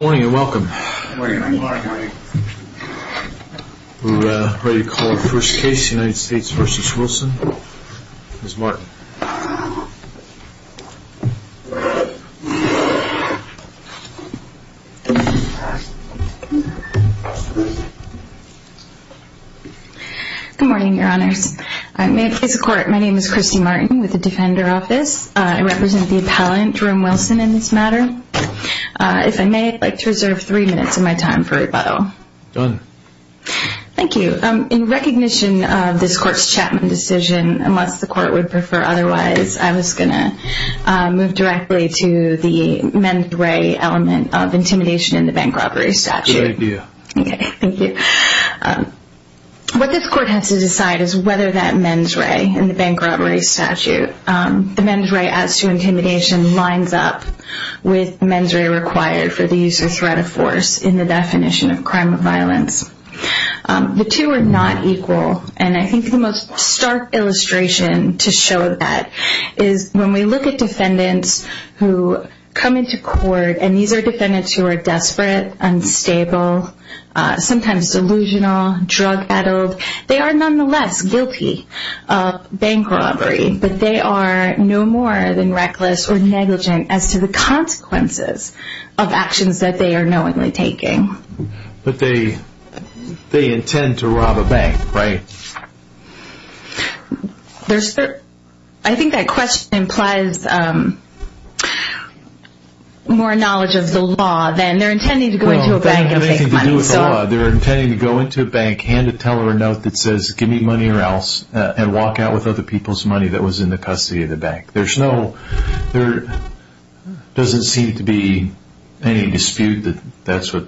Good morning and welcome. We're ready to call our first case, United States v. Wilson. Ms. Martin. Good morning, your honors. May it please the court, my name is Christy Martin with the Defender Office. I represent the appellant, Jerome Wilson, in this matter. If I may, I'd like to reserve three minutes of my time for rebuttal. Done. Thank you. In recognition of this court's Chapman decision, unless the court would prefer otherwise, I was going to move directly to the mens re element of intimidation in the bank robbery statute. Good idea. Okay, thank you. What this court has to decide is whether that mens re in the bank robbery statute, the mens re as to intimidation, lines up with mens re required for the use of threat of force in the definition of crime of violence. The two are not equal, and I think the most stark illustration to show that is when we look at defendants who come into court, and these are defendants who are desperate, unstable, sometimes delusional, drug addled. They are nonetheless guilty of bank robbery, but they are no more than reckless or negligent as to the consequences of actions that they are knowingly taking. But they intend to rob a bank, right? I think that question implies more knowledge of the law than they are intending to go into a bank and take money. Give me money or else, and walk out with other people's money that was in the custody of the bank. There doesn't seem to be any dispute that that's what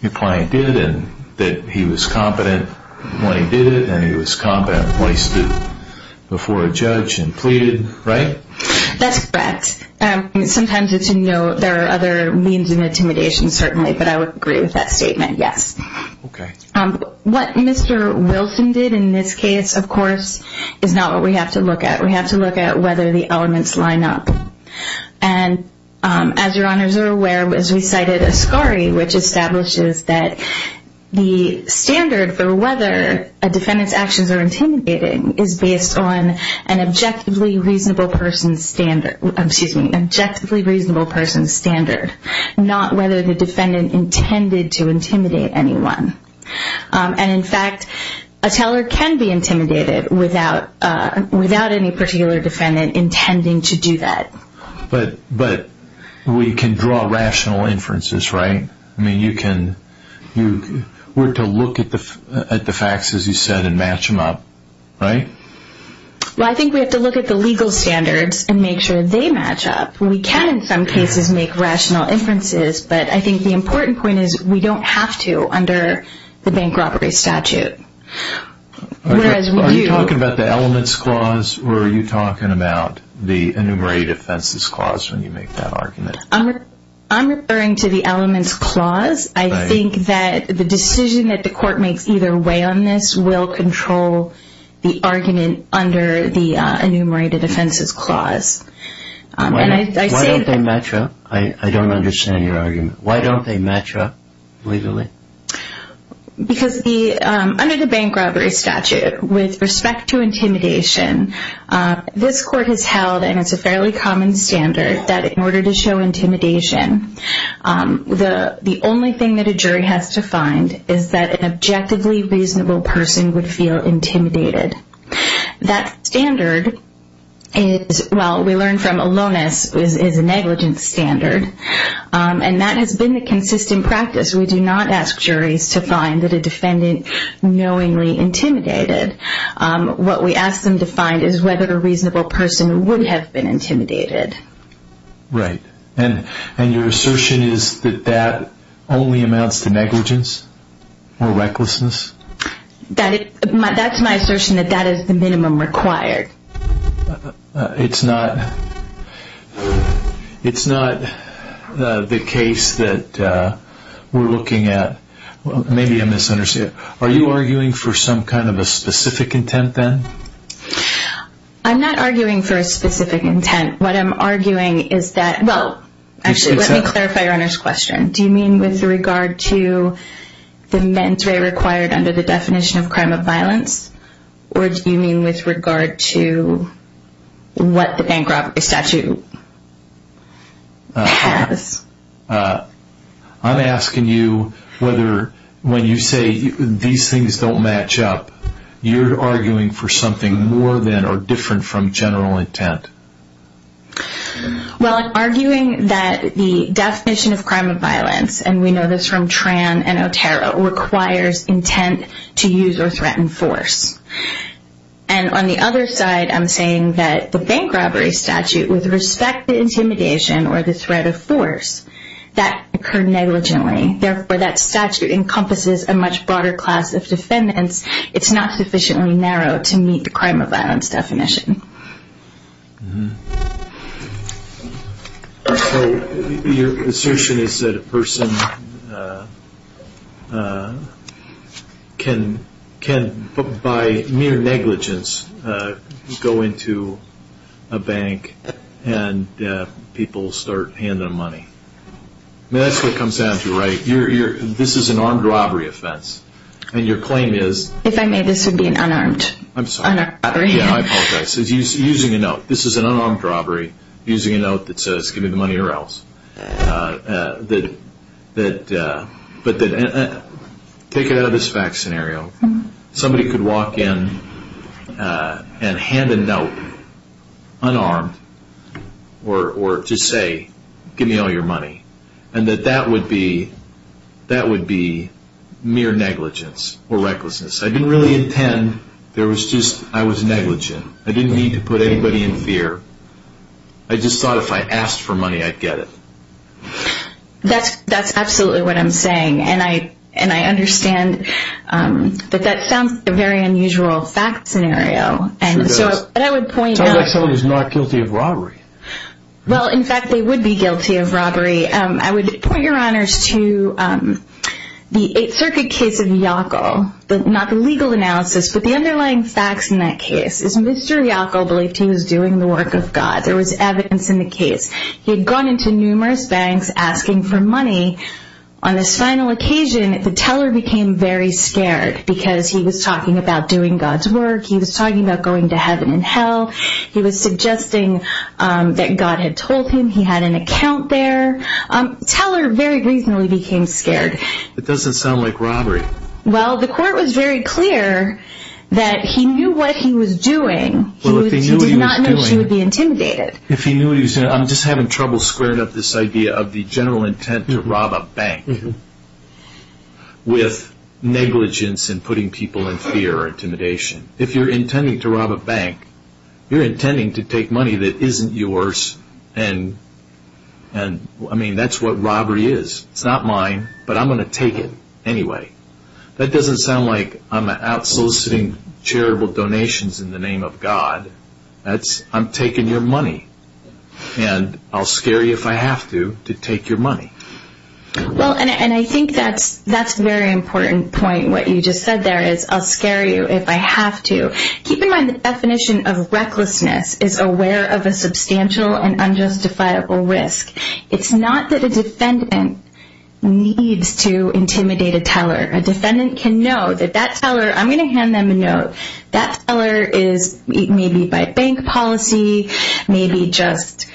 your client did, and that he was competent when he did it, and he was competent when he stood before a judge and pleaded, right? That's correct. Sometimes it's a no, there are other means of intimidation certainly, but I would agree with that statement, yes. What Mr. Wilson did in this case, of course, is not what we have to look at. We have to look at whether the elements line up. As your honors are aware, as we cited Ascari, which establishes that the standard for whether a defendant's actions are intimidating is based on an objectively reasonable person's standard. Excuse me, an objectively reasonable person's standard, not whether the defendant intended to intimidate anyone. In fact, a teller can be intimidated without any particular defendant intending to do that. But we can draw rational inferences, right? We're to look at the facts as you said and match them up, right? I think we have to look at the legal standards and make sure they match up. We can in some cases make rational inferences, but I think the important point is we don't have to under the bank robbery statute. Are you talking about the elements clause or are you talking about the enumerated offenses clause when you make that argument? I'm referring to the elements clause. I think that the decision that the court makes either way on this will control the argument under the enumerated offenses clause. Why don't they match up? I don't understand your argument. Why don't they match up legally? Because under the bank robbery statute, with respect to intimidation, this court has held, and it's a fairly common standard, that in order to show intimidation, the only thing that a jury has to find is that an objectively reasonable person would feel intimidated. That standard is, well, we learned from Alonis, is a negligence standard, and that has been the consistent practice. We do not ask juries to find that a defendant knowingly intimidated. What we ask them to find is whether a reasonable person would have been intimidated. Right, and your assertion is that that only amounts to negligence or recklessness? That's my assertion, that that is the minimum required. It's not the case that we're looking at. Maybe I misunderstood. Are you arguing for some kind of a specific intent then? I'm not arguing for a specific intent. What I'm arguing is that, well, actually, let me clarify your Honor's question. Do you mean with regard to the men's rate required under the definition of crime of violence? Or do you mean with regard to what the bank robbery statute has? I'm asking you whether when you say these things don't match up, you're arguing for something more than or different from general intent. Well, I'm arguing that the definition of crime of violence, and we know this from Tran and Otero, requires intent to use or threaten force. And on the other side, I'm saying that the bank robbery statute, with respect to intimidation or the threat of force, that occurred negligently. Therefore, that statute encompasses a much broader class of defendants. It's not sufficiently narrow to meet the crime of violence definition. So your assertion is that a person can, by mere negligence, go into a bank and people start handing them money. That's what it comes down to, right? This is an armed robbery offense. And your claim is? If I may, this would be an unarmed robbery. I'm sorry. I apologize. Using a note. This is an unarmed robbery. Using a note that says, give me the money or else. Take it out of this fact scenario. Somebody could walk in and hand a note, unarmed, or just say, give me all your money. And that that would be mere negligence or recklessness. I didn't really intend. I was negligent. I didn't mean to put anybody in fear. I just thought if I asked for money, I'd get it. That's absolutely what I'm saying. And I understand that that sounds like a very unusual fact scenario. It sure does. Sounds like someone who's not guilty of robbery. Well, in fact, they would be guilty of robbery. I would point your honors to the Eighth Circuit case of Yackel. Not the legal analysis, but the underlying facts in that case. Mr. Yackel believed he was doing the work of God. There was evidence in the case. He had gone into numerous banks asking for money. On this final occasion, the teller became very scared because he was talking about doing God's work. He was talking about going to heaven and hell. He was suggesting that God had told him he had an account there. The teller very reasonably became scared. It doesn't sound like robbery. Well, the court was very clear that he knew what he was doing. He did not know she would be intimidated. I'm just having trouble squaring up this idea of the general intent to rob a bank with negligence in putting people in fear or intimidation. If you're intending to rob a bank, you're intending to take money that isn't yours and, I mean, that's what robbery is. It's not mine, but I'm going to take it anyway. That doesn't sound like I'm out soliciting charitable donations in the name of God. I'm taking your money, and I'll scare you if I have to to take your money. Well, and I think that's a very important point, what you just said there, is I'll scare you if I have to. Keep in mind the definition of recklessness is aware of a substantial and unjustifiable risk. It's not that a defendant needs to intimidate a teller. A defendant can know that that teller, I'm going to hand them a note, that teller is maybe by bank policy, maybe just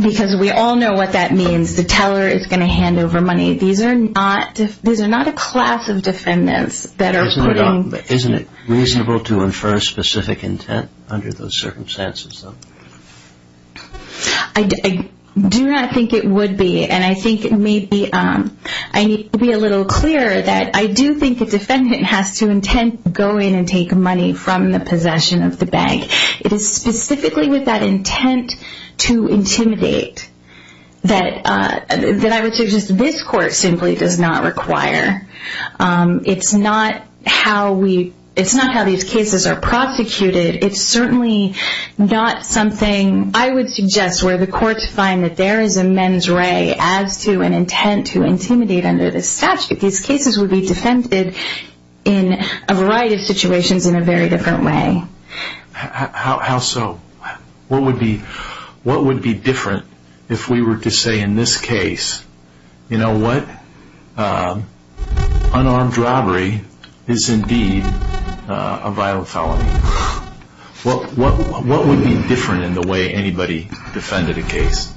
because we all know what that means, the teller is going to hand over money. These are not a class of defendants that are putting Isn't it reasonable to infer a specific intent under those circumstances? I do not think it would be, and I think maybe I need to be a little clearer that I do think a defendant has to intend to go in and take money from the possession of the bank. It is specifically with that intent to intimidate that I would suggest this court simply does not require. It's not how these cases are prosecuted. It's certainly not something I would suggest where the courts find that there is a men's ray as to an intent to intimidate under the statute. These cases would be defended in a variety of situations in a very different way. How so? What would be different if we were to say in this case, you know what, unarmed robbery is indeed a violent felony? What would be different in the way anybody defended a case?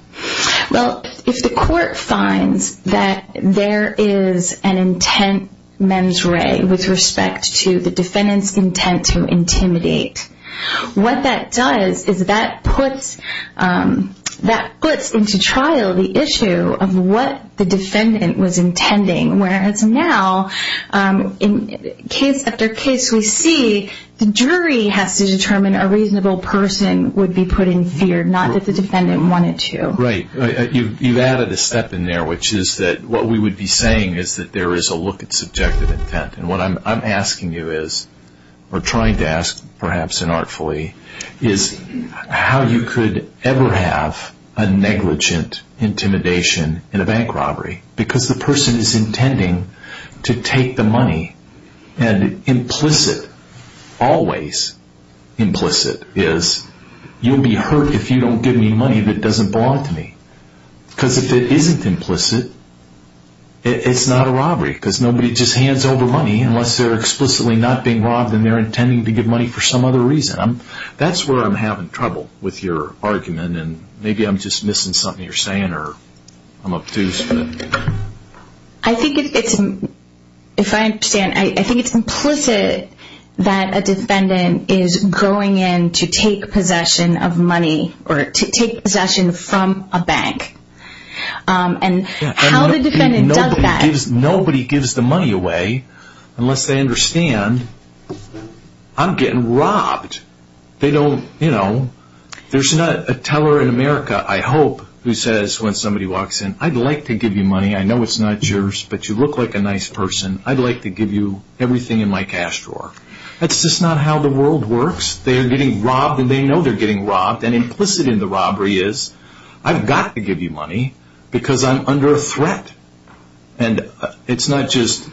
Well, if the court finds that there is an intent men's ray with respect to the defendant's intent to intimidate, what that does is that puts into trial the issue of what the defendant was intending. Whereas now, in case after case we see, the jury has to determine a reasonable person would be put in fear, not that the defendant wanted to. Right. You've added a step in there, which is that what we would be saying is that there is a look at subjective intent. And what I'm asking you is, or trying to ask perhaps inartfully, is how you could ever have a negligent intimidation in a bank robbery. Because the person is intending to take the money and implicit, always implicit, is you'll be hurt if you don't give me money that doesn't belong to me. Because if it isn't implicit, it's not a robbery. Because nobody just hands over money unless they're explicitly not being robbed and they're intending to give money for some other reason. That's where I'm having trouble with your argument. Maybe I'm just missing something you're saying or I'm obtuse. I think it's implicit that a defendant is going in to take possession of money or to take possession from a bank. And how the defendant does that... Nobody gives the money away unless they understand I'm getting robbed. There's not a teller in America, I hope, who says when somebody walks in, I'd like to give you money. I know it's not yours, but you look like a nice person. I'd like to give you everything in my cash drawer. That's just not how the world works. They're getting robbed and they know they're getting robbed. And implicit in the robbery is, I've got to give you money because I'm under a threat. And it's not just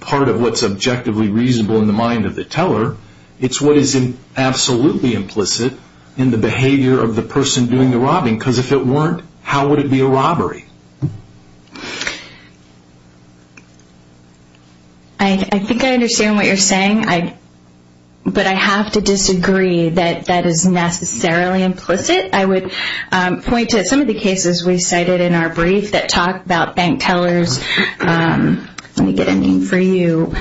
part of what's objectively reasonable in the mind of the teller. It's what is absolutely implicit in the behavior of the person doing the robbing. Because if it weren't, how would it be a robbery? I think I understand what you're saying. But I have to disagree that that is necessarily implicit. I would point to some of the cases we cited in our brief that talk about bank tellers. Let me get a name for you.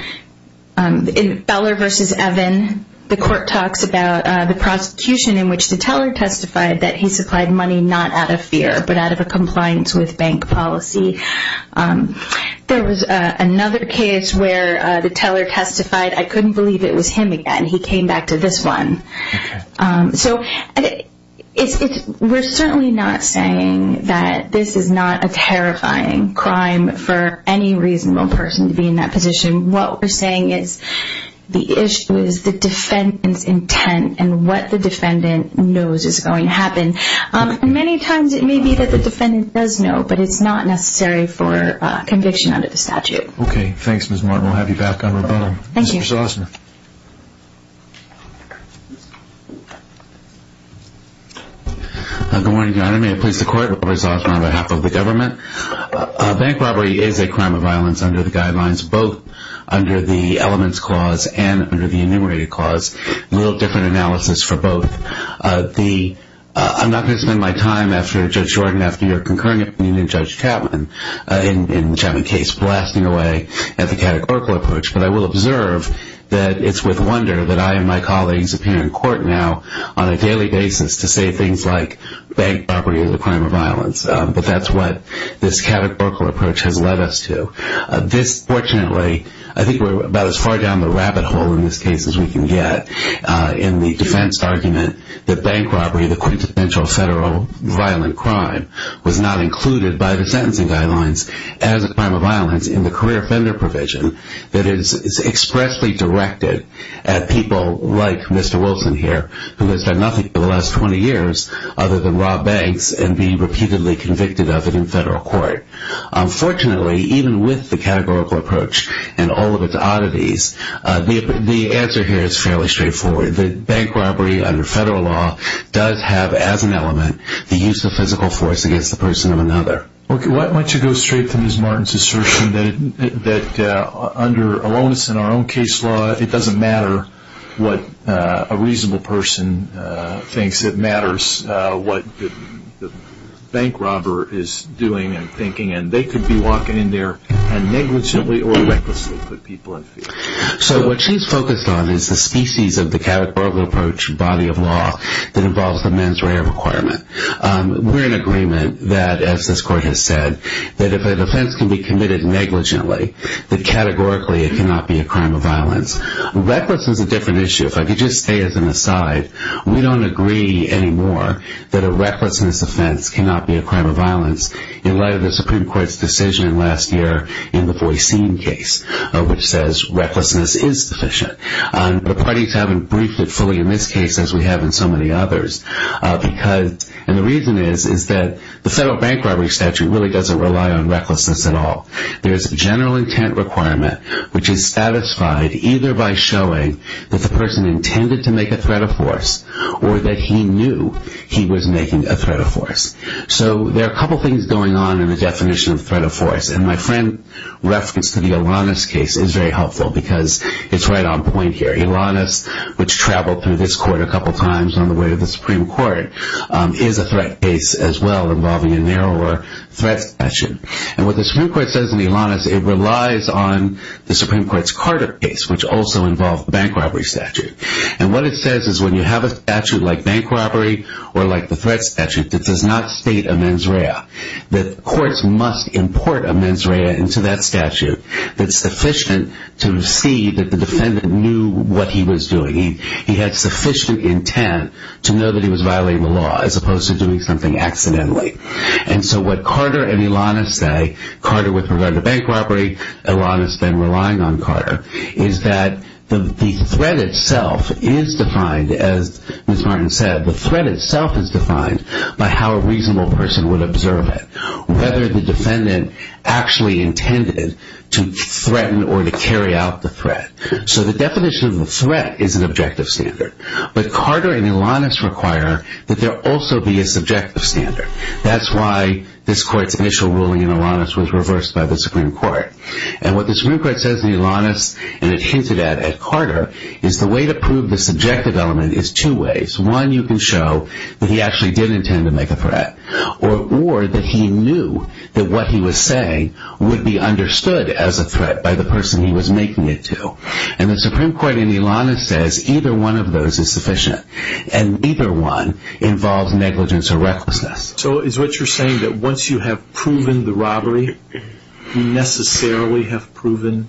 In Beller v. Evan, the court talks about the prosecution in which the teller testified that he supplied money not out of fear, but out of a compliance with bank policy. There was another case where the teller testified, I couldn't believe it was him again. He came back to this one. We're certainly not saying that this is not a terrifying crime for any reasonable person to be in that position. What we're saying is the issue is the defendant's intent and what the defendant knows is going to happen. Many times it may be that the defendant does know, but it's not necessary for conviction under the statute. Okay. Thanks, Ms. Martin. We'll have you back on rebuttal. Thank you. Mr. Zausman. Good morning, Your Honor. May it please the Court, Robert Zausman on behalf of the government. Bank robbery is a crime of violence under the guidelines, both under the Elements Clause and under the Enumerated Clause. A little different analysis for both. I'm not going to spend my time after Judge Jordan, after your concurring opinion of Judge Chapman, in the Chapman case, blasting away at the categorical approach, but I will observe that it's with wonder that I and my colleagues appear in court now on a daily basis to say things like bank robbery is a crime of violence. But that's what this categorical approach has led us to. This, fortunately, I think we're about as far down the rabbit hole in this case as we can get in the defense argument that bank robbery, the quintessential federal violent crime, was not included by the sentencing guidelines as a crime of violence in the career offender provision that is expressly directed at people like Mr. Wilson here, who has done nothing for the last 20 years other than rob banks and be repeatedly convicted of it in federal court. Unfortunately, even with the categorical approach and all of its oddities, the answer here is fairly straightforward. Bank robbery under federal law does have, as an element, the use of physical force against the person of another. Why don't you go straight to Ms. Martin's assertion that under aloneness in our own case law, it doesn't matter what a reasonable person thinks. It matters what the bank robber is doing and thinking, and they could be walking in there and negligently or recklessly put people in fear. So what she's focused on is the species of the categorical approach body of law that involves the mens rea requirement. We're in agreement that, as this court has said, that if a defense can be committed negligently, that categorically it cannot be a crime of violence. Recklessness is a different issue. If I could just say as an aside, we don't agree anymore that a recklessness offense cannot be a crime of violence in light of the Supreme Court's decision last year in the Voisin case, which says recklessness is sufficient. But the parties haven't briefed it fully in this case as we have in so many others. And the reason is that the federal bank robbery statute really doesn't rely on recklessness at all. There's a general intent requirement which is satisfied either by showing that the person intended to make a threat of force or that he knew he was making a threat of force. So there are a couple things going on in the definition of threat of force, and my friend's reference to the Elanis case is very helpful because it's right on point here. Elanis, which traveled through this court a couple times on the way to the Supreme Court, is a threat case as well involving a narrower threat section. And what the Supreme Court says in Elanis, it relies on the Supreme Court's Carter case, which also involved the bank robbery statute. And what it says is when you have a statute like bank robbery or like the threat statute that does not state a mens rea, that courts must import a mens rea into that statute that's sufficient to see that the defendant knew what he was doing. He had sufficient intent to know that he was violating the law as opposed to doing something accidentally. And so what Carter and Elanis say, Carter with regard to bank robbery, Elanis then relying on Carter, is that the threat itself is defined, as Ms. Martin said, the threat itself is defined by how a reasonable person would observe it. Whether the defendant actually intended to threaten or to carry out the threat. So the definition of the threat is an objective standard. But Carter and Elanis require that there also be a subjective standard. That's why this court's initial ruling in Elanis was reversed by the Supreme Court. And what the Supreme Court says in Elanis, and it hinted at at Carter, is the way to prove the subjective element is two ways. One, you can show that he actually did intend to make a threat. Or that he knew that what he was saying would be understood as a threat by the person he was making it to. And the Supreme Court in Elanis says either one of those is sufficient. And either one involves negligence or recklessness. So is what you're saying that once you have proven the robbery, you necessarily have proven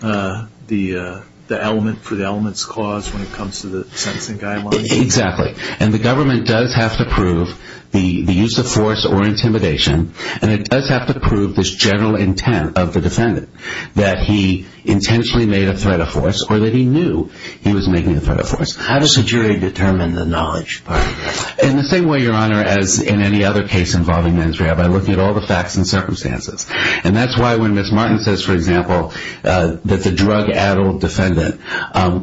the element for the element's cause when it comes to the sentencing guidelines? Exactly. And the government does have to prove the use of force or intimidation. And it does have to prove this general intent of the defendant. That he intentionally made a threat of force or that he knew he was making a threat of force. How does the jury determine the knowledge part? In the same way, Your Honor, as in any other case involving men's rehab. I look at all the facts and circumstances. And that's why when Ms. Martin says, for example, that the drug-addled defendant,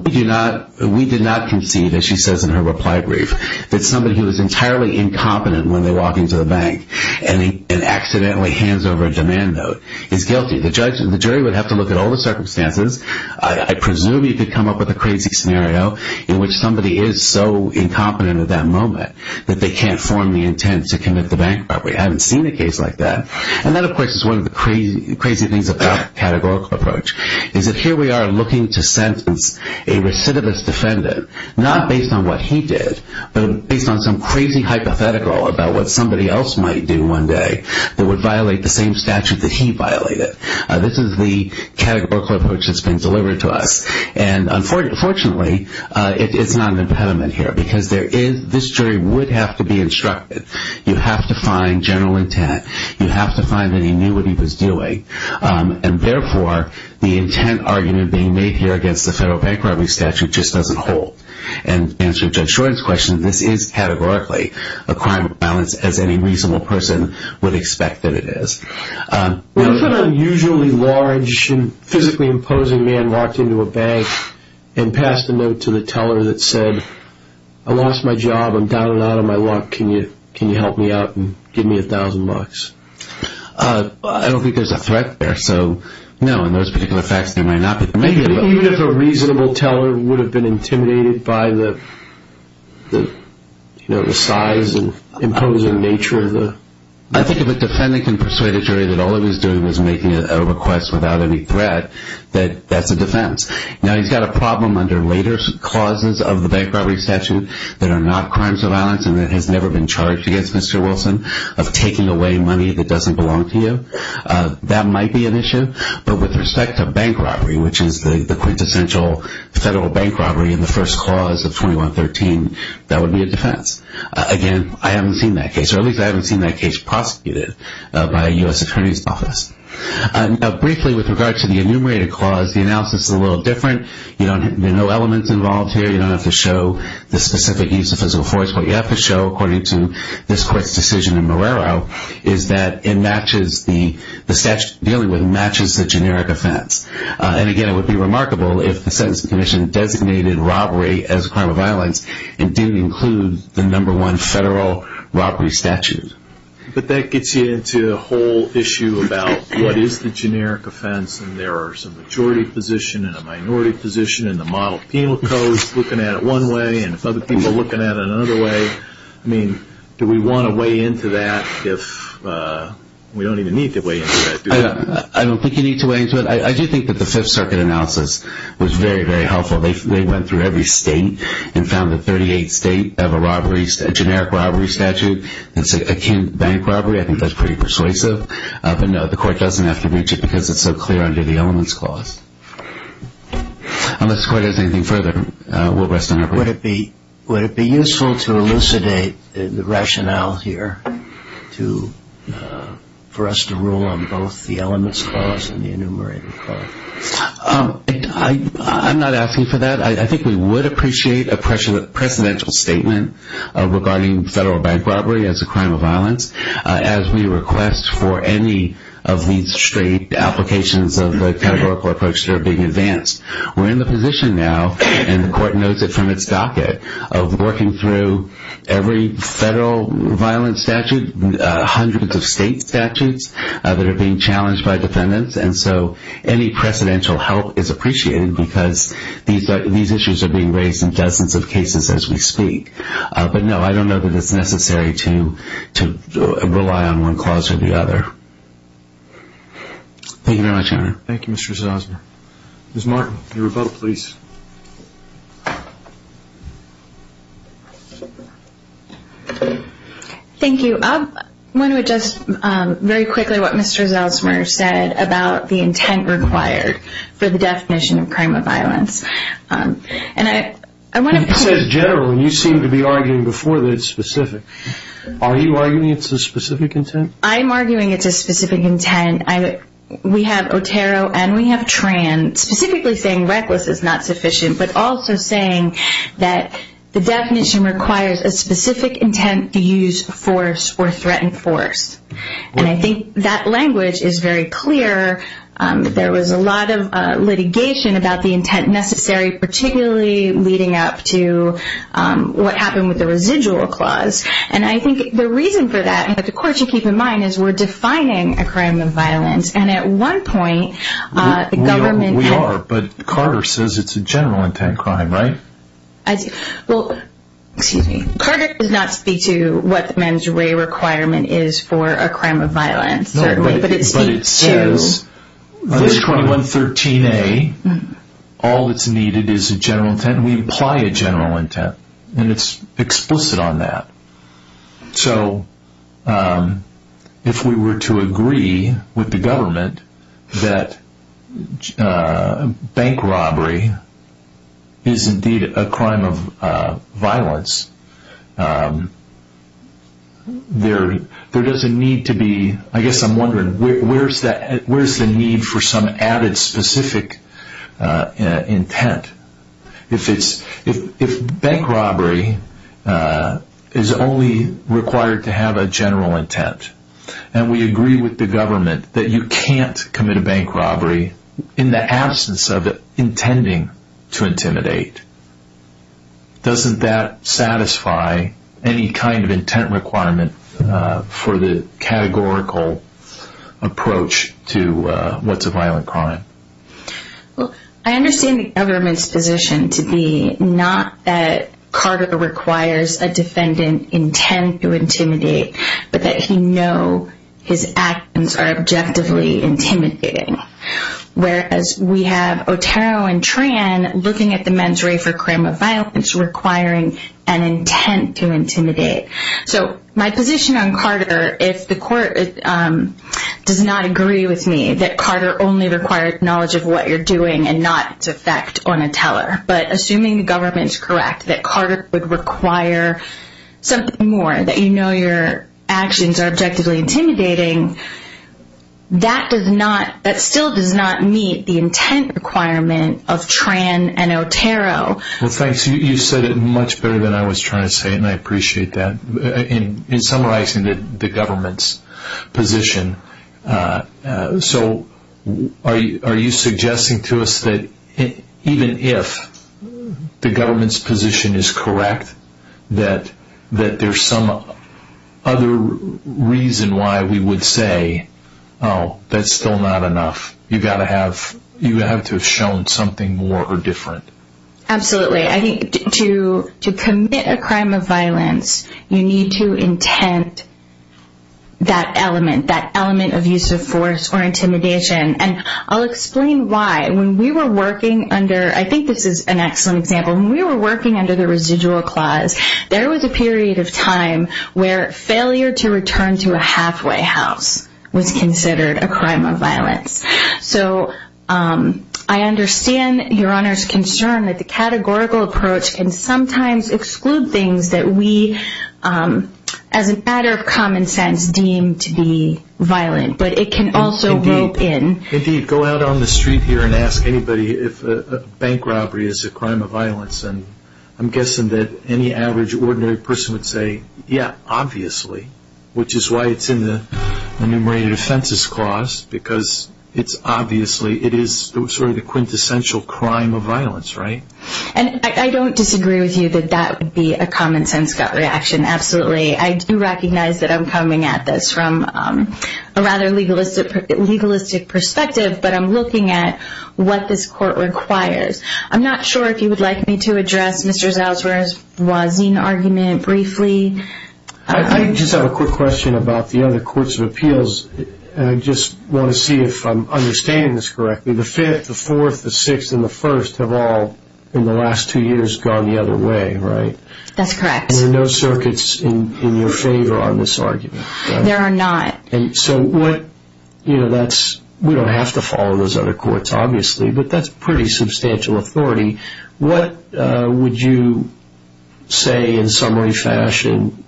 we did not conceive, as she says in her reply brief, that somebody who is entirely incompetent when they walk into the bank and accidentally hands over a demand note is guilty. The jury would have to look at all the circumstances. I presume you could come up with a crazy scenario in which somebody is so incompetent at that moment that they can't form the intent to commit the bank robbery. I haven't seen a case like that. And that, of course, is one of the crazy things about the categorical approach. Is that here we are looking to sentence a recidivist defendant, not based on what he did, but based on some crazy hypothetical about what somebody else might do one day that would violate the same statute that he violated. This is the categorical approach that's been delivered to us. And, unfortunately, it's not an impediment here because this jury would have to be instructed. You have to find general intent. You have to find that he knew what he was doing. And, therefore, the intent argument being made here against the federal bank robbery statute just doesn't hold. And to answer Judge Shorten's question, this is categorically a crime of violence, as any reasonable person would expect that it is. What if an unusually large and physically imposing man walked into a bank and passed a note to the teller that said, I lost my job, I'm down and out of my luck, can you help me out and give me $1,000? I don't think there's a threat there. So, no, in those particular facts there might not be. Even if a reasonable teller would have been intimidated by the size and imposing nature of the… I think if a defendant can persuade a jury that all he was doing was making a request without any threat, that that's a defense. Now, he's got a problem under later clauses of the bank robbery statute that are not crimes of violence and that has never been charged against Mr. Wilson of taking away money that doesn't belong to you. That might be an issue. But with respect to bank robbery, which is the quintessential federal bank robbery in the first clause of 2113, that would be a defense. Again, I haven't seen that case. Or at least I haven't seen that case prosecuted by a U.S. Attorney's Office. Now, briefly with regard to the enumerated clause, the analysis is a little different. There are no elements involved here. You don't have to show the specific use of physical force. What you have to show, according to this court's decision in Marrero, is that the statute dealing with it matches the generic offense. And again, it would be remarkable if the Sentencing Commission designated robbery as a crime of violence and didn't include the number one federal robbery statute. But that gets you into the whole issue about what is the generic offense and there is a majority position and a minority position and the model penal code is looking at it one way and other people are looking at it another way. I mean, do we want to weigh into that if we don't even need to weigh into that, do we? I don't think you need to weigh into it. I do think that the Fifth Circuit analysis was very, very helpful. They went through every state and found that 38 states have a generic robbery statute that's akin to bank robbery. I think that's pretty persuasive. But no, the court doesn't have to reach it because it's so clear under the elements clause. Unless the court has anything further, we'll rest on our break. Would it be useful to elucidate the rationale here for us to rule on both the elements clause and the enumerated clause? I'm not asking for that. I think we would appreciate a precedential statement regarding federal bank robbery as a crime of violence as we request for any of these straight applications of the categorical approach that are being advanced. We're in the position now, and the court knows it from its docket, of working through every federal violence statute, hundreds of state statutes that are being challenged by defendants. And so any precedential help is appreciated because these issues are being raised in dozens of cases as we speak. But no, I don't know that it's necessary to rely on one clause or the other. Thank you very much, Your Honor. Thank you, Mr. Zelsmer. Ms. Martin, your rebuttal, please. Thank you. I want to address very quickly what Mr. Zelsmer said about the intent required for the definition of crime of violence. He says general, and you seem to be arguing before that it's specific. Are you arguing it's a specific intent? I'm arguing it's a specific intent. We have Otero and we have Tran specifically saying reckless is not sufficient, but also saying that the definition requires a specific intent to use force or threaten force. And I think that language is very clear. There was a lot of litigation about the intent necessary, particularly leading up to what happened with the residual clause. And I think the reason for that, and the court should keep in mind, is we're defining a crime of violence. And at one point the government... We are, but Carter says it's a general intent crime, right? Carter does not speak to what the mandatory requirement is for a crime of violence, but it speaks to... But it says under 2113A, all that's needed is a general intent. We apply a general intent, and it's explicit on that. So if we were to agree with the government that bank robbery is indeed a crime of violence, there doesn't need to be... I guess I'm wondering, where's the need for some added specific intent? If bank robbery is only required to have a general intent, and we agree with the government that you can't commit a bank robbery in the absence of intending to intimidate, doesn't that satisfy any kind of intent requirement for the categorical approach to what's a violent crime? Well, I understand the government's position to be not that Carter requires a defendant intent to intimidate, but that he know his actions are objectively intimidating. Whereas we have Otero and Tran looking at the mandatory for crime of violence requiring an intent to intimidate. So my position on Carter, if the court does not agree with me that Carter only requires knowledge of what you're doing and not its effect on a teller, but assuming the government is correct that Carter would require something more, that you know your actions are objectively intimidating, that still does not meet the intent requirement of Tran and Otero. Well, thanks. You said it much better than I was trying to say, and I appreciate that. In summarizing the government's position, are you suggesting to us that even if the government's position is correct, that there's some other reason why we would say, oh, that's still not enough. You have to have shown something more or different. Absolutely. To commit a crime of violence, you need to intent that element, that element of use of force or intimidation. And I'll explain why. When we were working under, I think this is an excellent example, when we were working under the residual clause, there was a period of time where failure to return to a halfway house was considered a crime of violence. So I understand Your Honor's concern that the categorical approach can sometimes exclude things that we, as a matter of common sense, deem to be violent, but it can also rope in. Indeed, go out on the street here and ask anybody if a bank robbery is a crime of violence, and I'm guessing that any average ordinary person would say, yeah, obviously, which is why it's in the enumerated offenses clause, because it's obviously, it is sort of the quintessential crime of violence, right? And I don't disagree with you that that would be a common sense gut reaction. Absolutely. I do recognize that I'm coming at this from a rather legalistic perspective, but I'm looking at what this court requires. I'm not sure if you would like me to address Mr. Zauserer's Wazin argument briefly. I just have a quick question about the other courts of appeals. I just want to see if I'm understanding this correctly. The Fifth, the Fourth, the Sixth, and the First have all, in the last two years, gone the other way, right? That's correct. There are no circuits in your favor on this argument. There are not. And so what, you know, that's, we don't have to follow those other courts, obviously, but that's pretty substantial authority. What would you say in summary fashion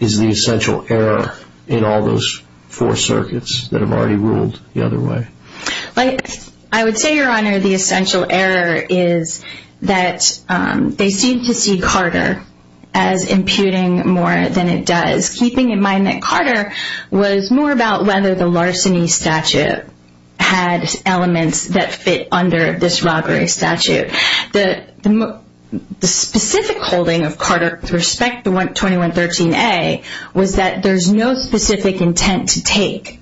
is the essential error in all those four circuits that have already ruled the other way? I would say, Your Honor, the essential error is that they seem to see Carter as imputing more than it does, keeping in mind that Carter was more about whether the larceny statute had elements that fit under this robbery statute. The specific holding of Carter with respect to 2113A was that there's no specific intent to take,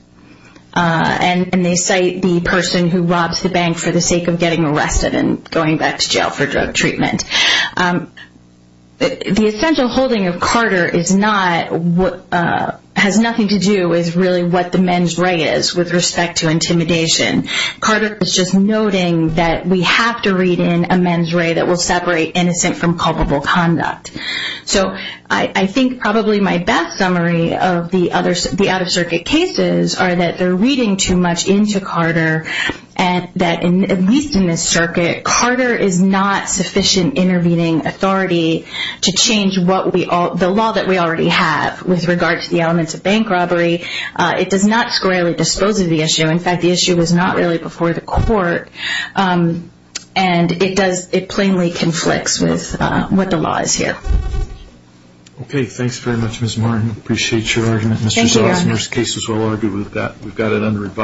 and they cite the person who robs the bank for the sake of getting arrested and going back to jail for drug treatment. The essential holding of Carter is not, has nothing to do with really what the men's right is with respect to intimidation. Carter is just noting that we have to read in a men's right that will separate innocent from culpable conduct. So I think probably my best summary of the out-of-circuit cases are that they're reading too much into Carter, and that, at least in this circuit, Carter is not sufficient intervening authority to change the law that we already have with regard to the elements of bank robbery. It does not squarely dispose of the issue. In fact, the issue is not really before the court, and it does, it plainly conflicts with what the law is here. Okay, thanks very much, Ms. Martin. Appreciate your argument, Mr. Zell. Thank you, Your Honor. Most cases will argue with that. We've got it under review.